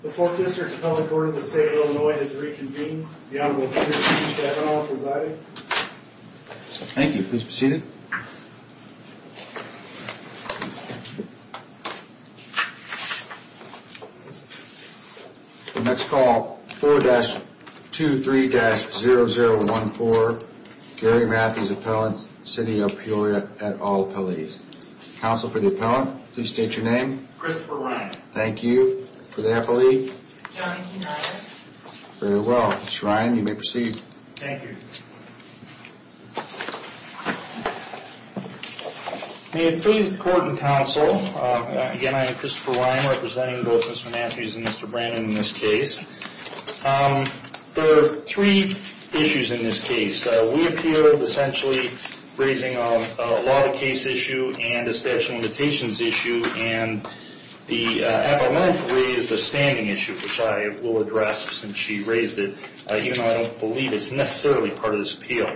The 4th District Appellate Board of the State of Illinois has reconvened. The Honorable Peter T. Chabot will preside. Thank you. Please be seated. The next call, 4-23-0014, Gary Matthews Appellant, City of Peoria, et al. Police. Counsel for the Appellant, please state your name. Christopher Lang. Thank you. For the Appellate? John E. Ryan. Very well. Mr. Ryan, you may proceed. Thank you. May it please the Court and Counsel, again, I am Christopher Ryan, representing both Mr. Matthews and Mr. Brannon in this case. There are three issues in this case. We appeal, essentially, raising a law of the case issue and a statute of limitations issue, and the Appellant raised a standing issue, which I will address since she raised it, even though I don't believe it's necessarily part of this appeal.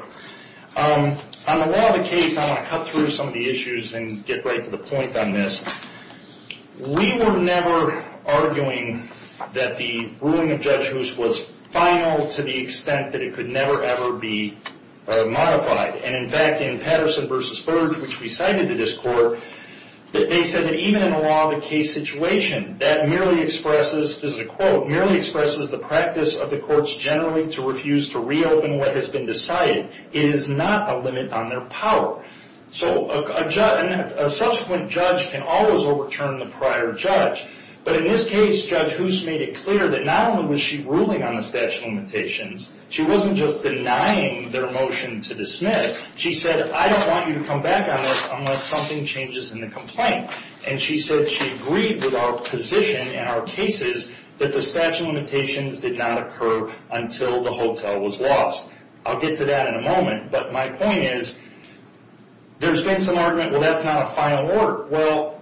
On the law of the case, I'm going to cut through some of the issues and get right to the point on this. We were never arguing that the ruling of Judge Hoos was final to the extent that it could never, ever be modified. And, in fact, in Patterson v. Burge, which we cited in this court, they said that even in a law of the case situation, that merely expresses, this is a quote, merely expresses the practice of the courts generally to refuse to reopen what has been decided. It is not a limit on their power. So a subsequent judge can always overturn the prior judge. But in this case, Judge Hoos made it clear that not only was she ruling on the statute of limitations, she wasn't just denying their motion to dismiss. She said, I don't want you to come back on this unless something changes in the complaint. And she said she agreed with our position and our cases that the statute of limitations did not occur until the hotel was lost. I'll get to that in a moment. But my point is, there's been some argument, well, that's not a final order. Well,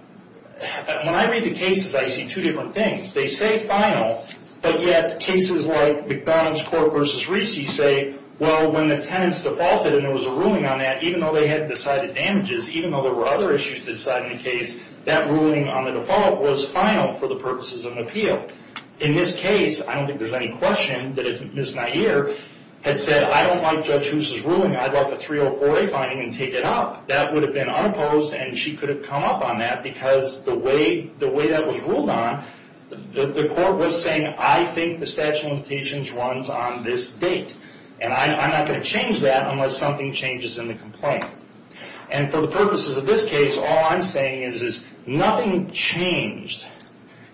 when I read the cases, I see two different things. They say final, but yet cases like McDonald's Court v. Recy say, well, when the tenants defaulted and there was a ruling on that, even though they had decided damages, even though there were other issues to decide in the case, that ruling on the default was final for the purposes of an appeal. In this case, I don't think there's any question that if Ms. Nair had said, I don't like Judge Hoos' ruling, I'd like a 304A finding and take it up, that would have been unopposed and she could have come up on that because the way that was ruled on, the court was saying, I think the statute of limitations runs on this date. And I'm not going to change that unless something changes in the complaint. And for the purposes of this case, all I'm saying is, nothing changed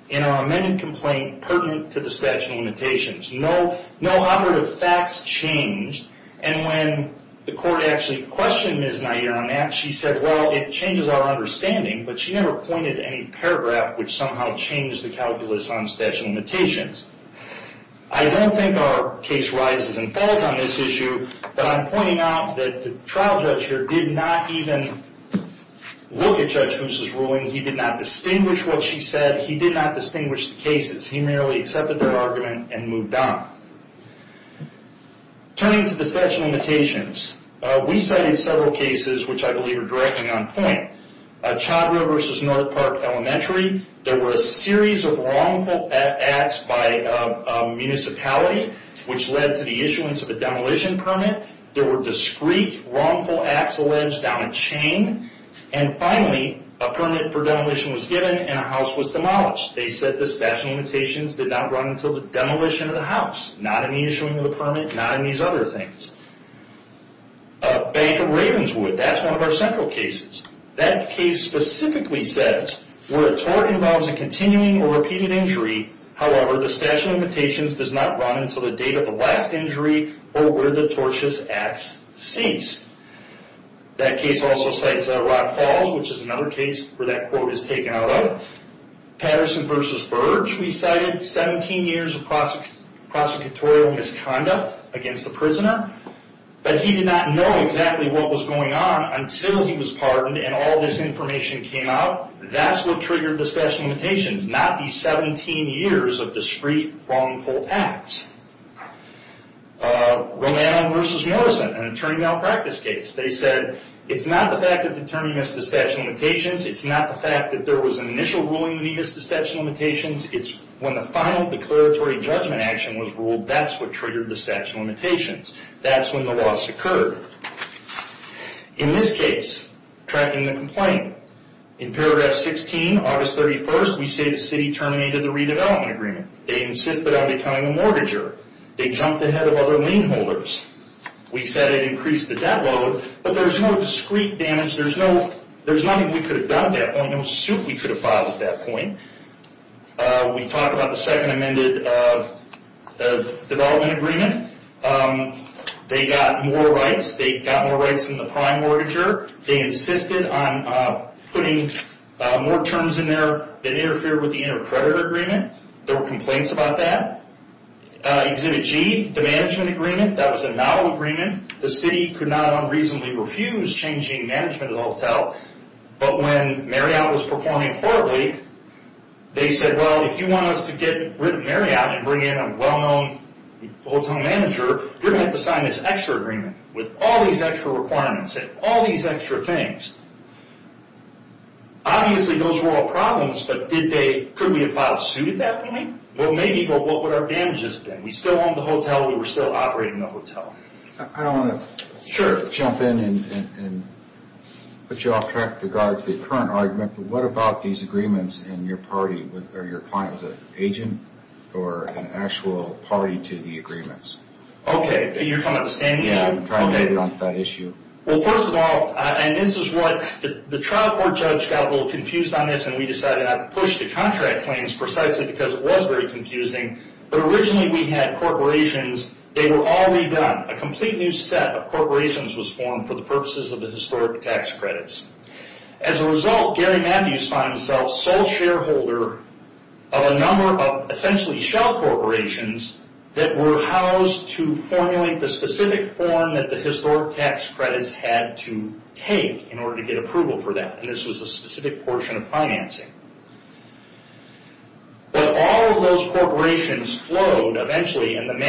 in our amended complaint pertinent to the statute of limitations. No operative facts changed. And when the court actually questioned Ms. Nair on that, she said, well, it changes our understanding, but she never pointed to any paragraph which somehow changed the calculus on statute of limitations. I don't think our case rises and falls on this issue, but I'm pointing out that the trial judge here did not even look at Judge Hoos' ruling. He did not distinguish what she said. He did not distinguish the cases. He merely accepted their argument and moved on. Turning to the statute of limitations, we cited several cases which I believe are directly on point. Chandra versus North Park Elementary. There were a series of wrongful acts by a municipality which led to the issuance of a demolition permit. There were discrete wrongful acts alleged down a chain. And finally, a permit for demolition was given and a house was demolished. They said the statute of limitations did not run until the demolition of the house. Not in the issuing of the permit, not in these other things. Bank of Ravenswood, that's one of our central cases. That case specifically says, where a tort involves a continuing or repeated injury, however, the statute of limitations does not run until the date of the last injury or where the tortious acts ceased. That case also cites Rock Falls, which is another case where that quote is taken out of. Patterson versus Burge, we cited 17 years of prosecutorial misconduct against the prisoner. But he did not know exactly what was going on until he was pardoned and all this information came out. That's what triggered the statute of limitations, not these 17 years of discrete wrongful acts. Romano versus Morrison, an attorney malpractice case. They said it's not the fact that the attorney missed the statute of limitations. It's not the fact that there was an initial ruling that he missed the statute of limitations. That's what triggered the statute of limitations. That's when the loss occurred. In this case, tracking the complaint, in paragraph 16, August 31st, we say the city terminated the redevelopment agreement. They insisted on becoming a mortgager. They jumped ahead of other lien holders. We said it increased the debt load, but there's no discrete damage. There's nothing we could have done at that point, no suit we could have filed at that point. We talked about the second amended development agreement. They got more rights. They got more rights than the prime mortgager. They insisted on putting more terms in there that interfered with the intercreditor agreement. There were complaints about that. Exhibit G, the management agreement, that was a novel agreement. The city could not unreasonably refuse changing management, as I'll tell. When Marriott was performing poorly, they said, if you want us to get rid of Marriott and bring in a well-known hotel manager, you're going to have to sign this extra agreement with all these extra requirements and all these extra things. Obviously, those were all problems, but could we have filed a suit at that point? Maybe, but what would our damages have been? We still owned the hotel. We were still operating the hotel. I don't want to jump in and put you off track with regards to the current argument, but what about these agreements and your party or your client was an agent or an actual party to the agreements? Okay, you're talking about the standing issue? Yeah, I'm trying to get onto that issue. Well, first of all, and this is what the trial court judge got a little confused on this, and we decided not to push the contract claims precisely because it was very confusing, but originally we had corporations. They were all redone. A complete new set of corporations was formed for the purposes of the historic tax credits. As a result, Gary Matthews found himself sole shareholder of a number of essentially shell corporations that were housed to formulate the specific form that the historic tax credits had to take in order to get approval for that, and this was a specific portion of financing. But all of those corporations flowed eventually, and the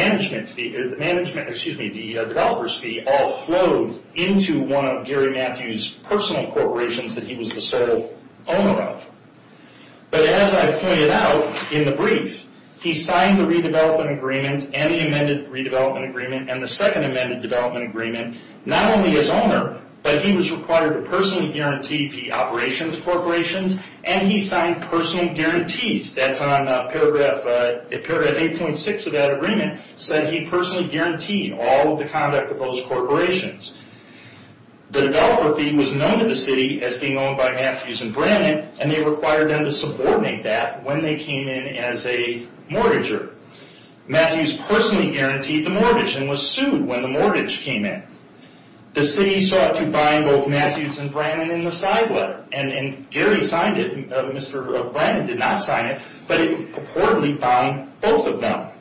developers fee all flowed into one of Gary Matthews' personal corporations that he was the sole owner of, but as I pointed out in the brief, he signed the redevelopment agreement and the amended redevelopment agreement and the second amended development agreement not only as owner, but he was required to personally guarantee the operations corporations, and he signed personal guarantees. That's on paragraph 8.6 of that agreement. It said he personally guaranteed all of the conduct of those corporations. The developer fee was known to the city as being owned by Matthews and Brannan, and they required them to subordinate that when they came in as a mortgager. Matthews personally guaranteed the mortgage and was sued when the mortgage came in. The city sought to bind both Matthews and Brannan in the side letter, and Gary signed it. Mr. Brannan did not sign it, but he reportedly found both of them.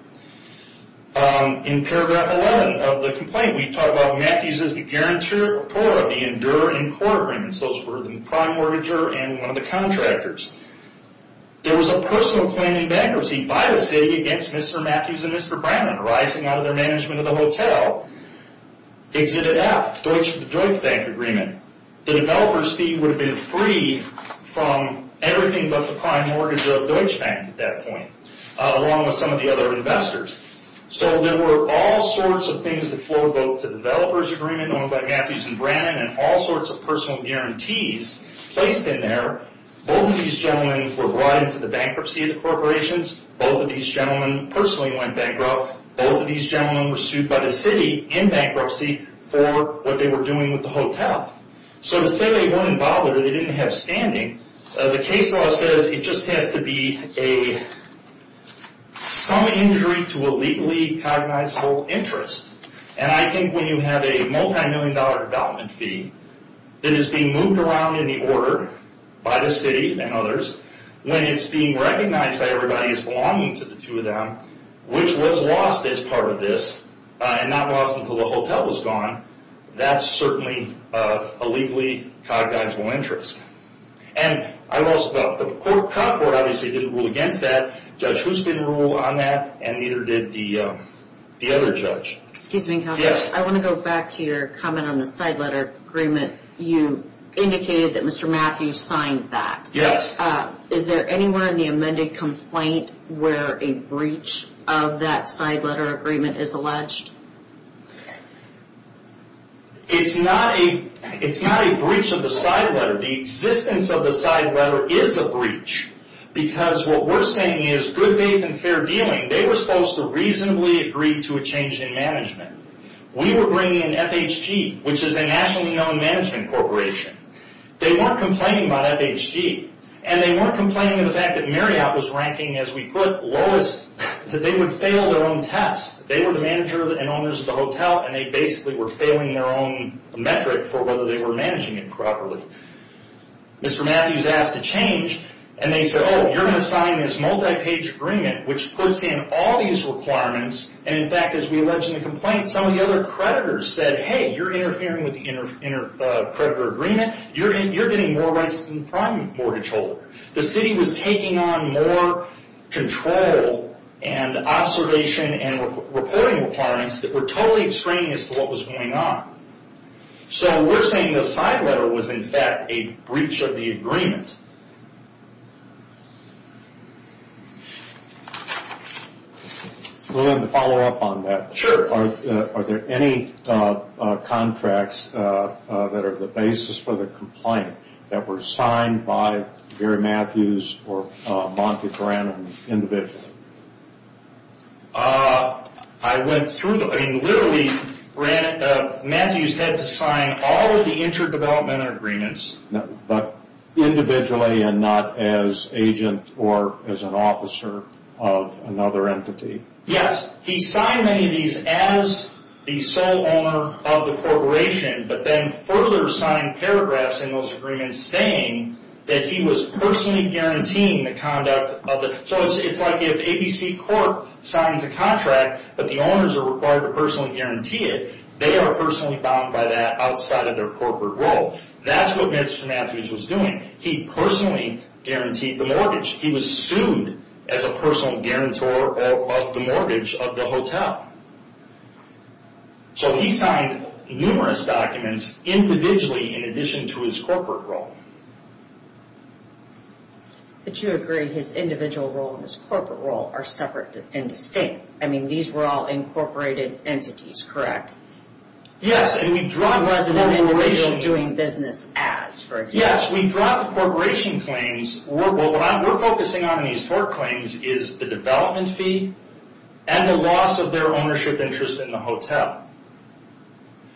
In paragraph 11 of the complaint, we talk about Matthews as the guarantor of the enduro and quarter agreements. Those were the prime mortgager and one of the contractors. There was a personal claim in bankruptcy by the city against Mr. Matthews and Mr. Brannan arising out of their management of the hotel. Exhibit F, Deutsche Bank agreement. The developer's fee would have been free from everything but the prime mortgage of Deutsche Bank at that point, along with some of the other investors. So there were all sorts of things that flowed both to the developer's agreement owned by Matthews and Brannan and all sorts of personal guarantees placed in there. Both of these gentlemen were brought into the bankruptcy of the corporations. Both of these gentlemen personally went bankrupt. Both of these gentlemen were sued by the city in bankruptcy for what they were doing with the hotel. So to say they weren't involved or they didn't have standing, the case law says it just has to be some injury to a legally cognizable interest. And I think when you have a multimillion dollar development fee that is being moved around in the order by the city and others, when it's being recognized by everybody as belonging to the two of them, which was lost as part of this, and not lost until the hotel was gone, that's certainly a legally cognizable interest. And I've also got the court. The court obviously didn't rule against that. Judge Hoost didn't rule on that and neither did the other judge. Excuse me, Counselor. Yes. I want to go back to your comment on the side letter agreement. You indicated that Mr. Matthews signed that. Yes. Is there anywhere in the amended complaint where a breach of that side letter agreement is alleged? It's not a breach of the side letter. The existence of the side letter is a breach because what we're saying is good faith and fair dealing. They were supposed to reasonably agree to a change in management. We were bringing in FHG, which is a nationally known management corporation. They weren't complaining about FHG, and they weren't complaining of the fact that Marriott was ranking, as we put, lowest, that they would fail their own test. They were the manager and owners of the hotel, and they basically were failing their own metric for whether they were managing it properly. Mr. Matthews asked to change, and they said, oh, you're going to sign this multi-page agreement, which puts in all these requirements, and in fact, as we allege in the complaint, some of the other creditors said, hey, you're interfering with the creditor agreement. You're getting more rights than the prime mortgage holder. The city was taking on more control and observation and reporting requirements that were totally extraneous to what was going on. So we're saying the side letter was, in fact, a breach of the agreement. We're going to follow up on that. Sure. Are there any contracts that are the basis for the complaint that were signed by Gary Matthews or Monty Brannan individually? I went through them. I mean, literally, Matthews had to sign all of the inter-development agreements. But individually and not as agent or as an officer of another entity? Yes. He signed many of these as the sole owner of the corporation, but then further signed paragraphs in those agreements saying that he was personally guaranteeing the conduct of it. So it's like if ABC Corp. signs a contract, but the owners are required to personally guarantee it, they are personally bound by that outside of their corporate role. He personally guaranteed the mortgage. He was sued as a personal guarantor of the mortgage of the hotel. So he signed numerous documents individually in addition to his corporate role. But you agree his individual role and his corporate role are separate and distinct. I mean, these were all incorporated entities, correct? Yes. It wasn't an individual doing business as, for example. Yes, we dropped corporation claims. What we're focusing on in these tort claims is the development fee and the loss of their ownership interest in the hotel.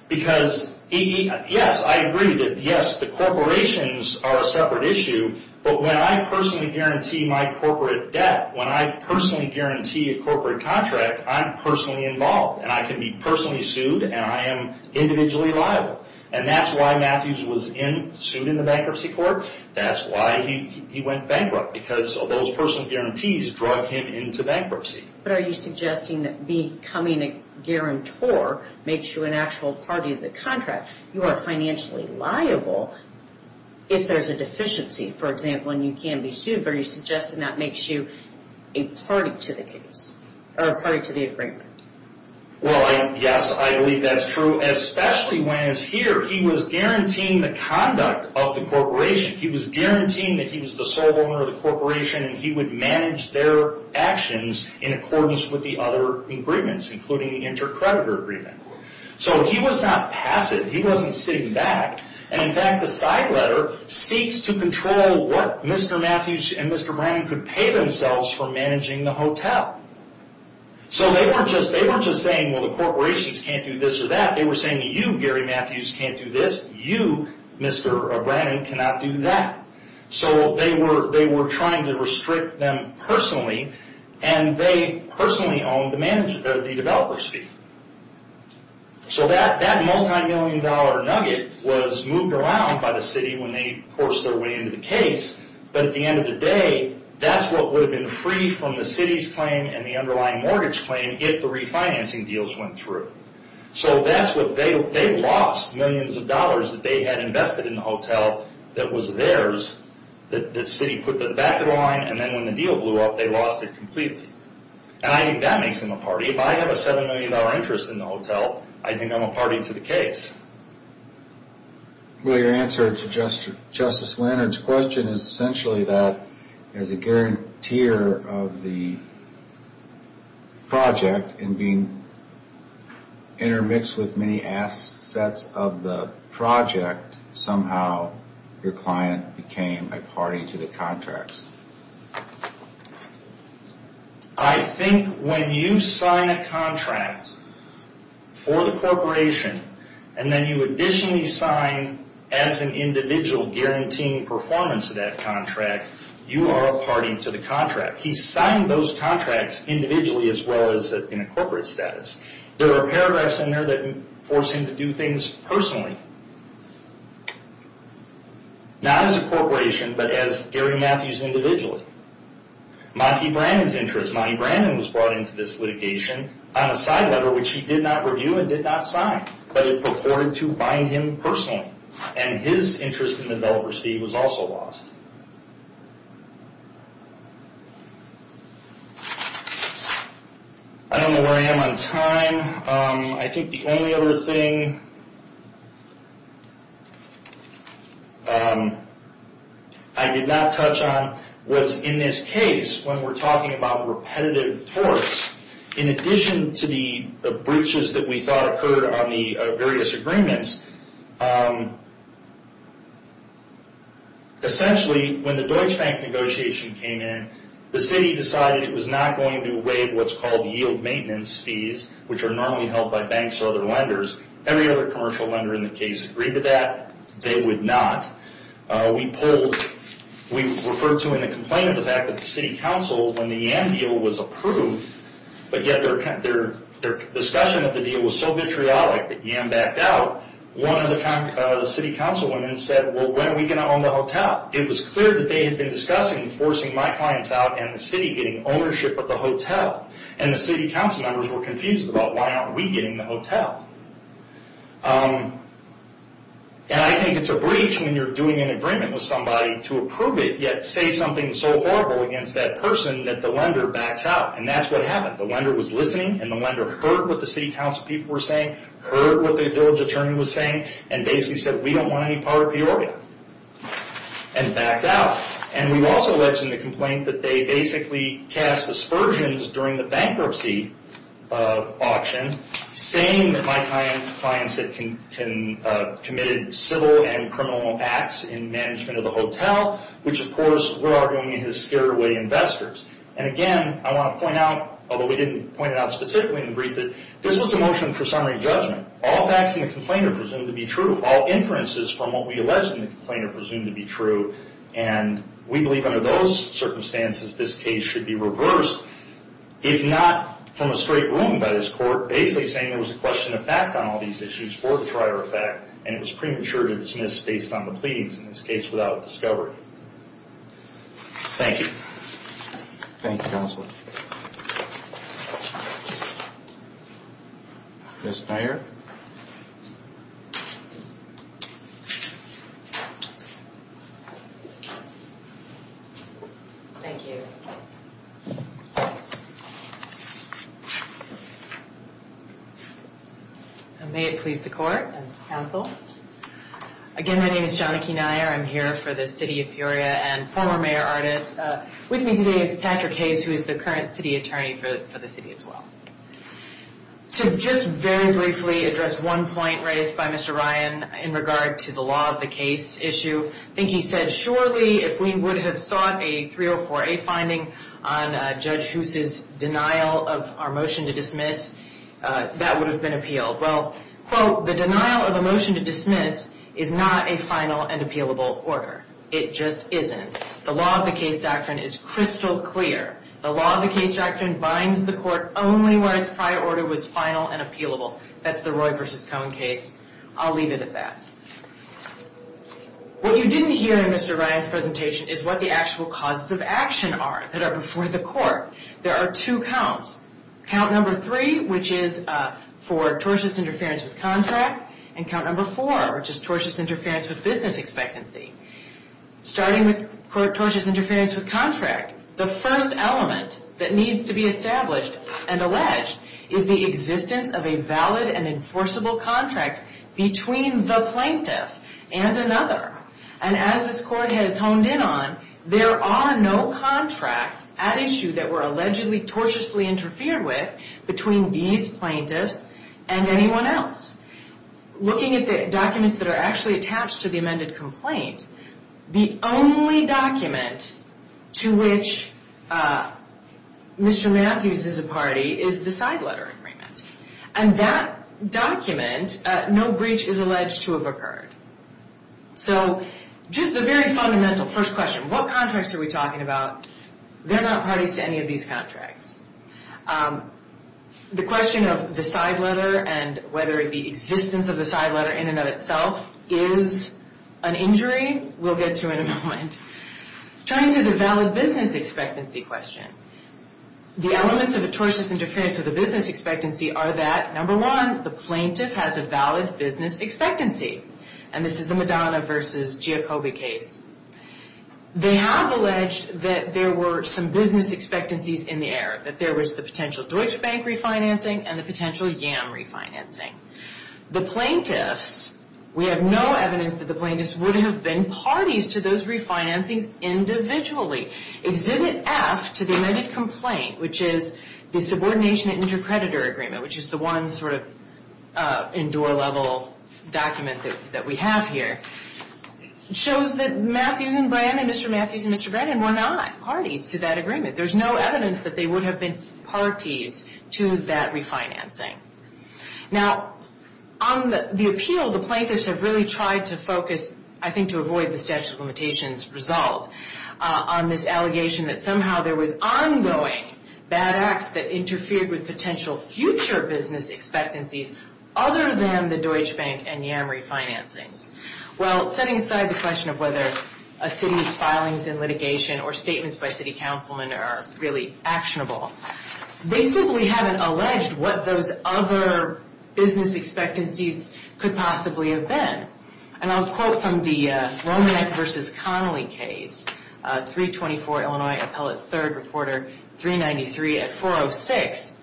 Because, yes, I agree that, yes, the corporations are a separate issue, but when I personally guarantee my corporate debt, when I personally guarantee a corporate contract, I'm personally involved, and I can be personally sued, and I am individually liable. And that's why Matthews was sued in the bankruptcy court. That's why he went bankrupt, because those personal guarantees drug him into bankruptcy. But are you suggesting that becoming a guarantor makes you an actual party to the contract? You are financially liable if there's a deficiency. For example, and you can be sued, but are you suggesting that makes you a party to the case, or a party to the agreement? Well, yes, I believe that's true, especially when it's here. He was guaranteeing the conduct of the corporation. He was guaranteeing that he was the sole owner of the corporation, and he would manage their actions in accordance with the other agreements, including the intercreditor agreement. So he was not passive. He wasn't sitting back. And, in fact, the side letter seeks to control what Mr. Matthews and Mr. Brannon could pay themselves for managing the hotel. So they weren't just saying, well, the corporations can't do this or that. They were saying, you, Gary Matthews, can't do this. You, Mr. Brannon, cannot do that. So they were trying to restrict them personally, and they personally owned the developer's fee. So that multimillion-dollar nugget was moved around by the city when they forced their way into the case. But at the end of the day, that's what would have been free from the city's claim and the underlying mortgage claim if the refinancing deals went through. So they lost millions of dollars that they had invested in the hotel that was theirs. The city put that back in line, and then when the deal blew up, they lost it completely. And I think that makes them a party. If I have a $7 million interest in the hotel, I think I'm a party to the case. Well, your answer to Justice Leonard's question is essentially that as a guarantor of the project and being intermixed with many assets of the project, somehow your client became a party to the contracts. I think when you sign a contract for the corporation, and then you additionally sign as an individual guaranteeing performance of that contract, you are a party to the contract. He signed those contracts individually as well as in a corporate status. There are paragraphs in there that force him to do things personally, not as a corporation, but as Gary Matthews individually. Monty Brannan's interest. Monty Brannan was brought into this litigation on a side letter which he did not review and did not sign, but it purported to bind him personally. And his interest in the developer's fee was also lost. I don't know where I am on time. I think the only other thing I did not touch on was in this case when we're talking about repetitive torts, in addition to the breaches that we thought occurred on the various agreements. Essentially, when the Deutsche Bank negotiation came in, the city decided it was not going to waive what's called yield maintenance fees, which are normally held by banks or other lenders. Every other commercial lender in the case agreed to that. They would not. We referred to in the complaint the fact that the city council, when the YAM deal was approved, but yet their discussion of the deal was so vitriolic that YAM backed out, one of the city councilwomen said, well, when are we going to own the hotel? It was clear that they had been discussing forcing my clients out and the city getting ownership of the hotel, and the city councilmembers were confused about why aren't we getting the hotel. And I think it's a breach when you're doing an agreement with somebody to approve it, yet say something so horrible against that person that the lender backs out, and that's what happened. The lender was listening, and the lender heard what the city councilpeople were saying, heard what the village attorney was saying, and basically said, we don't want any part of the order, and backed out. And we also alleged in the complaint that they basically cast aspersions during the bankruptcy auction, saying that my clients had committed civil and criminal acts in management of the hotel, which, of course, we're arguing is scared away investors. And again, I want to point out, although we didn't point it out specifically in the brief, that this was a motion for summary judgment. All facts in the complaint are presumed to be true. All inferences from what we alleged in the complaint are presumed to be true, and we believe under those circumstances this case should be reversed, if not from a straight ruling by this court basically saying there was a question of fact on all these issues, for the trier of fact, and it was premature to dismiss based on the pleadings in this case without discovery. Thank you. Thank you, counsel. Ms. Nair? Thank you. And may it please the court and counsel, again, my name is Jonah K. Nair. I'm here for the city of Peoria and former mayor-artist. With me today is Patrick Hayes, who is the current city attorney for the city as well. To just very briefly address one point raised by Mr. Ryan in regard to the law of the case issue, I think he said surely if we would have sought a 304A finding on Judge Hoose's denial of our motion to dismiss, that would have been appealed. Well, quote, the denial of a motion to dismiss is not a final and appealable order. It just isn't. The law of the case doctrine is crystal clear. The law of the case doctrine binds the court only where its prior order was final and appealable. That's the Roy v. Cohn case. I'll leave it at that. What you didn't hear in Mr. Ryan's presentation is what the actual causes of action are that are before the court. There are two counts. Count number three, which is for tortious interference with contract, and count number four, which is tortious interference with business expectancy. Starting with tortious interference with contract, the first element that needs to be established and alleged is the existence of a valid and enforceable contract between the plaintiff and another. And as this court has honed in on, there are no contracts at issue that were allegedly tortiously interfered with between these plaintiffs and anyone else. Looking at the documents that are actually attached to the amended complaint, the only document to which Mr. Matthews is a party is the side letter agreement. And that document, no breach is alleged to have occurred. So just the very fundamental first question, what contracts are we talking about? They're not parties to any of these contracts. The question of the side letter and whether the existence of the side letter in and of itself is an injury, we'll get to in a moment. Turning to the valid business expectancy question, the elements of a tortious interference with a business expectancy are that, number one, the plaintiff has a valid business expectancy. And this is the Madonna versus Giacobbe case. They have alleged that there were some business expectancies in the air, that there was the potential Deutsche Bank refinancing and the potential YAM refinancing. The plaintiffs, we have no evidence that the plaintiffs would have been parties to those refinancings individually. Exhibit F to the amended complaint, which is the subordination intercreditor agreement, which is the one sort of indoor-level document that we have here, shows that Matthews and Brennan, Mr. Matthews and Mr. Brennan were not parties to that agreement. There's no evidence that they would have been parties to that refinancing. Now, on the appeal, the plaintiffs have really tried to focus, I think to avoid the statute of limitations result, on this allegation that somehow there was ongoing bad acts that interfered with potential future business expectancies other than the Deutsche Bank and YAM refinancings. Well, setting aside the question of whether a city's filings in litigation or statements by city councilmen are really actionable, they simply haven't alleged what those other business expectancies could possibly have been. And I'll quote from the Romanek versus Connolly case, 324 Illinois Appellate 3rd Reporter 393 at 406,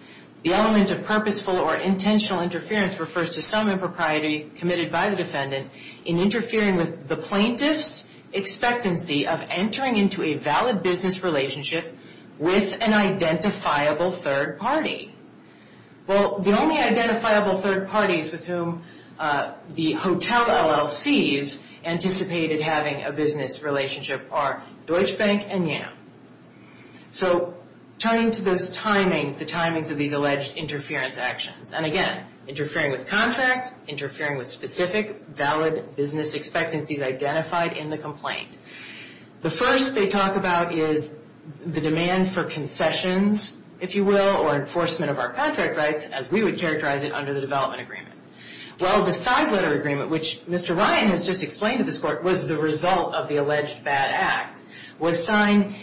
the element of purposeful or intentional interference refers to some impropriety committed by the defendant in interfering with the plaintiff's expectancy of entering into a valid business relationship with an identifiable third party. Well, the only identifiable third parties with whom the hotel LLCs anticipated having a business relationship are Deutsche Bank and YAM. So, turning to those timings, the timings of these alleged interference actions, and again, interfering with contracts, interfering with specific valid business expectancies identified in the complaint. The first they talk about is the demand for concessions, if you will, or enforcement of our contract rights, as we would characterize it under the development agreement. Well, the side letter agreement, which Mr. Ryan has just explained to this court, was the result of the alleged bad act, was signed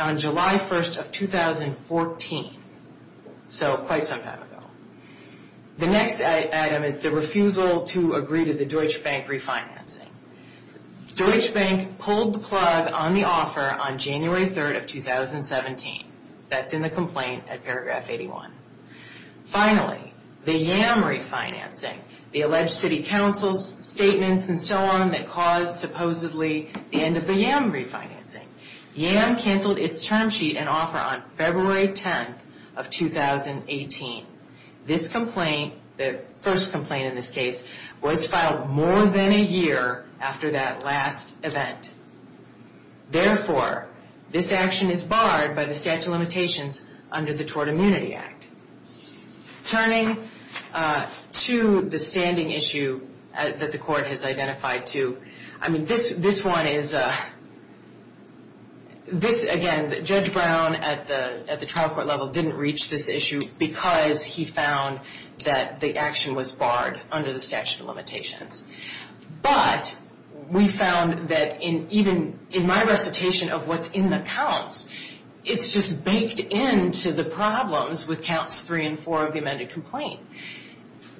on July 1st of 2014, so quite some time ago. The next item is the refusal to agree to the Deutsche Bank refinancing. Deutsche Bank pulled the plug on the offer on January 3rd of 2017. That's in the complaint at paragraph 81. Finally, the YAM refinancing, the alleged city council's statements and so on that caused supposedly the end of the YAM refinancing. YAM canceled its term sheet and offer on February 10th of 2018. This complaint, the first complaint in this case, was filed more than a year after that last event. Therefore, this action is barred by the statute of limitations under the Tort Immunity Act. Turning to the standing issue that the court has identified to, I mean, this one is this, again, Judge Brown at the trial court level didn't reach this issue because he found that the action was barred under the statute of limitations. But, we found that even in my recitation of what's in the counts, it's just baked into the problems with counts 3 and 4 of the amended complaint.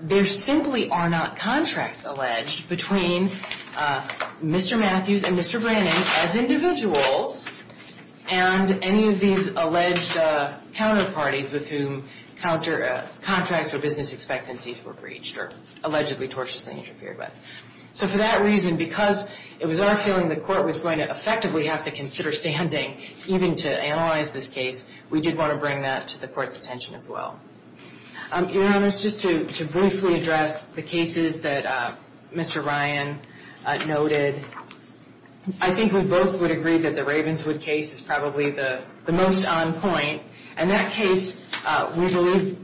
There simply are not contracts alleged between Mr. Matthews and Mr. Brannan as individuals and any of these alleged counterparties with whom contracts or business expectancies were breached or allegedly tortiously interfered with. So, for that reason, because it was our feeling the court was going to effectively have to consider standing even to analyze this case, we did want to bring that to the court's attention as well. Your Honor, just to briefly address the cases that Mr. Ryan noted, I think we both would agree that the Ravenswood case is probably the most on point and that case we believe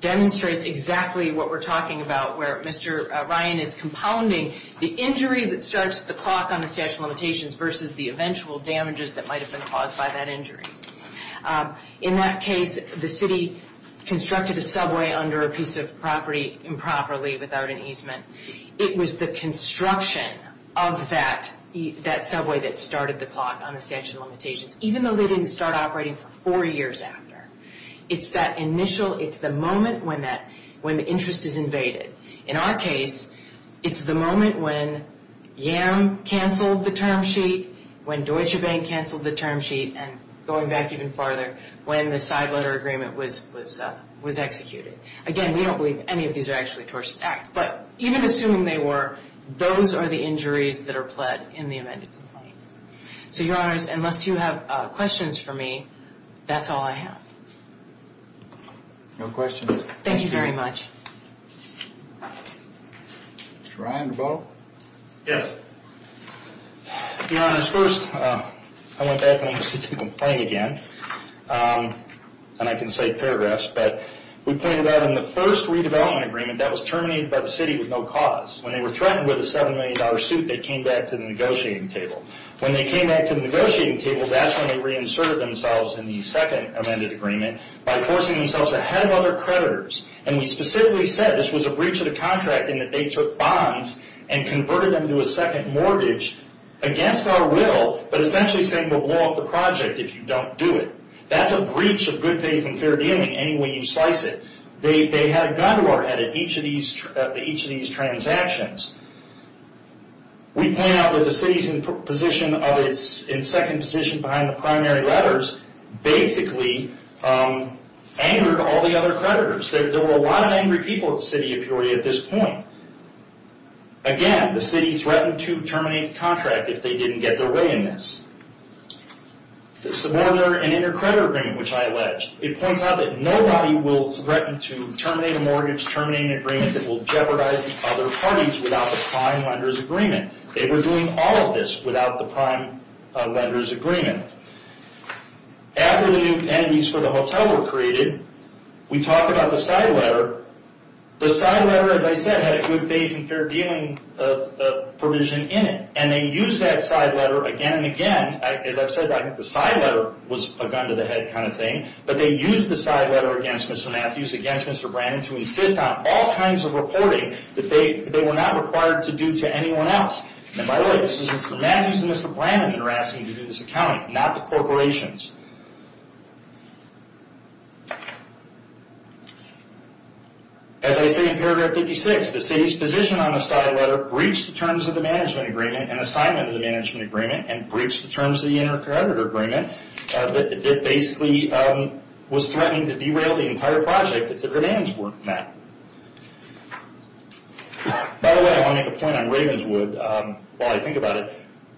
demonstrates exactly what we're talking about where Mr. Ryan is compounding the injury that starts the clock on the statute of limitations versus the eventual damages that might have been caused by that injury. In that case, the city constructed a subway under a piece of property improperly without an easement. It was the construction of that subway that started the clock on the statute of limitations, even though they didn't start operating for four years after. It's that initial, it's the moment when interest is when Yam canceled the term sheet, when Deutsche Bank canceled the term sheet, and going back even farther, when the side letter agreement was executed. Again, we don't believe any of these are actually tortious acts, but even assuming they were, those are the injuries that are pled in the amended complaint. So, Your Honors, unless you have questions for me, that's all I have. No questions. Thank you very much. Mr. Ryan? Yes. Your Honors, first, I went back and went back to the complaint again, and I can cite paragraphs, but we pointed out in the first redevelopment agreement that was terminated by the city with no cause. When they were threatened with a $7 million suit, they came back to the negotiating table. When they came back to the negotiating table, that's when they reinserted themselves in the second amended agreement by forcing themselves ahead of other creditors, and we specifically said this was a breach of the contract in that they took bonds and converted them to a second mortgage against our will, but essentially saying we'll blow up the project if you don't do it. That's a breach of good faith and fair dealing any way you slice it. They had a gun to our head at each of these transactions. We point out that the city's in second position behind the primary lenders basically angered all the other creditors. There were a lot of angry people at the city of Peoria at this point. Again, the city threatened to terminate the contract if they didn't get their way in this. The suborder and inter-credit agreement, which I alleged, it points out that nobody will threaten to terminate a mortgage, terminate an agreement that will jeopardize the other parties without the prime lender's agreement. They were doing all of this without the prime lender's agreement. After the new entities for the hotel were created, we talk about the side letter. The side letter, as I said, had a good faith and fair dealing provision in it, and they used that side letter again and again. As I've said, the side letter was a gun to the head kind of thing, but they used the side letter against Mr. Matthews, against Mr. Brandon to insist on all kinds of reporting that they were not required to do to anyone else. And by the way, this is Mr. Matthews and Mr. Brandon that are asking to do this accounting, not the corporations. As I say in paragraph 56, the city's position on the side letter breached the terms of the management agreement and assignment of the management agreement, and breached the terms of the inter-credit agreement that basically was threatening to derail the entire project that the demands were met. By the way, I want to make a point on Ravenswood while I think about it.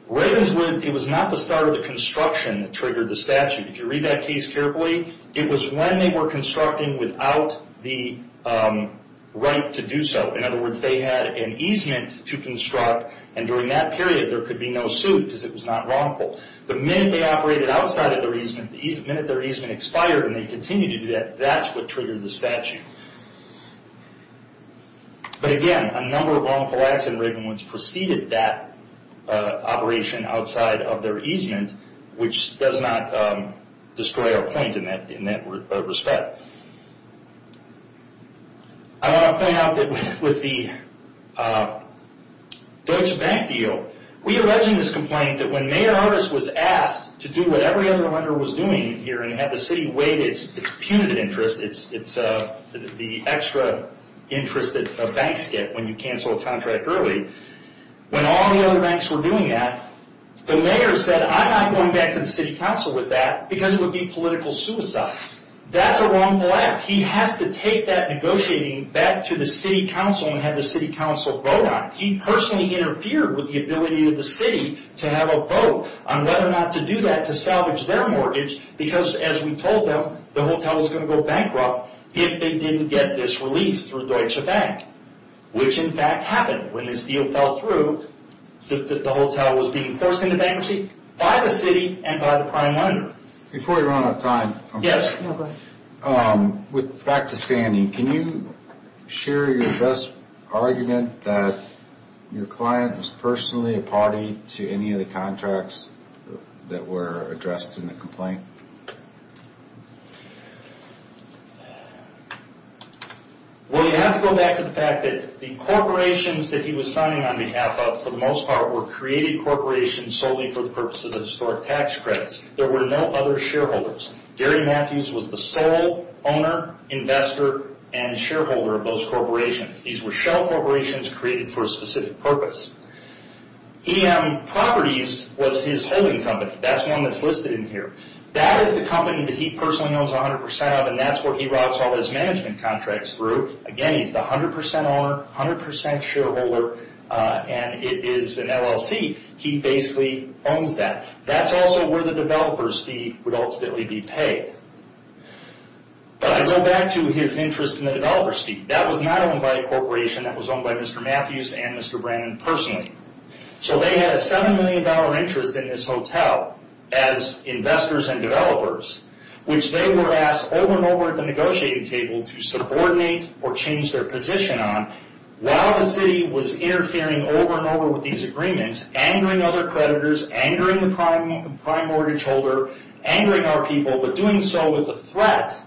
Ravenswood, it was not the start of the construction that triggered the statute. If you read that case carefully, it was when they were constructing without the right to do so. In other words, they had an easement to construct, and during that period there could be no suit because it was not wrongful. The minute they operated outside of their easement, the minute their easement expired and they continued to do that, that's what triggered the statute. But again, a number of wrongful acts in Ravenswood preceded that operation outside of their easement which does not destroy our point in that respect. I want to point out that with the Deutsche Bank deal, we allege in this complaint that when Mayor Artis was asked to do what every other lender was doing here and had the city wait, it's punitive interest, it's the extra interest that banks get when you cancel a contract early. When all the other banks were doing that, the mayor said, I'm not going back to the city council with that because it would be political suicide. That's a wrongful act. He has to take that negotiating back to the city council and have the city council vote on it. He personally interfered with the ability of the city to have a vote on whether or not to do that to salvage their mortgage because as we told them, the hotel was going to go bankrupt if they didn't get this relief through Deutsche Bank, which in fact happened when this deal fell through. The hotel was being forced into bankruptcy by the city and by the prime lender. Back to Sandy, can you share your best argument that your client was personally a party to any of the contracts that were addressed in the complaint? You have to go back to the fact that the corporations that he was signing on behalf of, for the most part, were created corporations solely for the purpose of the historic tax credits. There were no other shareholders. Gary Matthews was the sole owner, investor, and shareholder of those corporations. These were shell corporations created for a specific purpose. EM Properties was his holding company. That's one that's listed in here. That is the company that he personally owns 100% of and that's where he routes all his management contracts through. Again, he's the 100% owner, 100% shareholder, and it is an LLC. He basically owns that. That's also where the developer's fee would ultimately be paid. I go back to his interest in the developer's fee. That was not owned by a corporation. That was owned by Mr. Matthews and Mr. Brannon personally. They had a $7 million interest in this hotel as investors and developers, which they were asked over and over at the negotiating table to subordinate or change their position on while the city was interfering over and over with these agreements, angering other creditors, angering the prime mortgage holder, angering our people, but doing so with the threat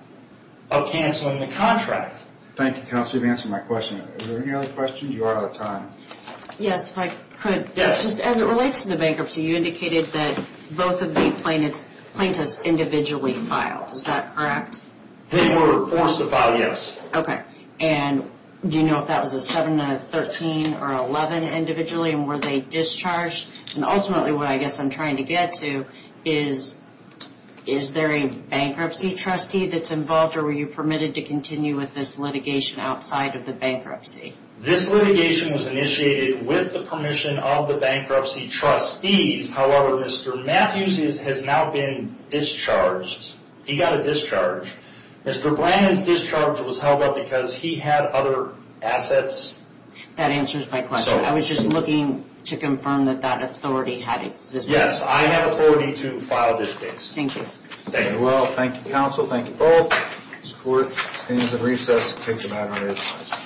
of canceling the contract. Thank you, Counselor, for answering my question. Are there any other questions? You are out of time. Yes, if I could. As it relates to the bankruptcy, you indicated that both of the plaintiffs individually filed. Is that correct? They were forced to file, yes. Okay. Do you know if that was a 7, a 13, or 11 individually and were they discharged? Ultimately, what I guess I'm trying to get to is, is there a bankruptcy trustee that's involved or were you permitted to continue with this litigation outside of the bankruptcy? This litigation was initiated with the permission of the bankruptcy trustees. However, Mr. Matthews has now been discharged. He got a discharge. Mr. Brannon's discharge was held up because he had other assets. That answers my question. I was just looking to confirm that that authority had existed. Yes, I have authority to file this case. Thank you. Thank you, Counsel. Thank you both.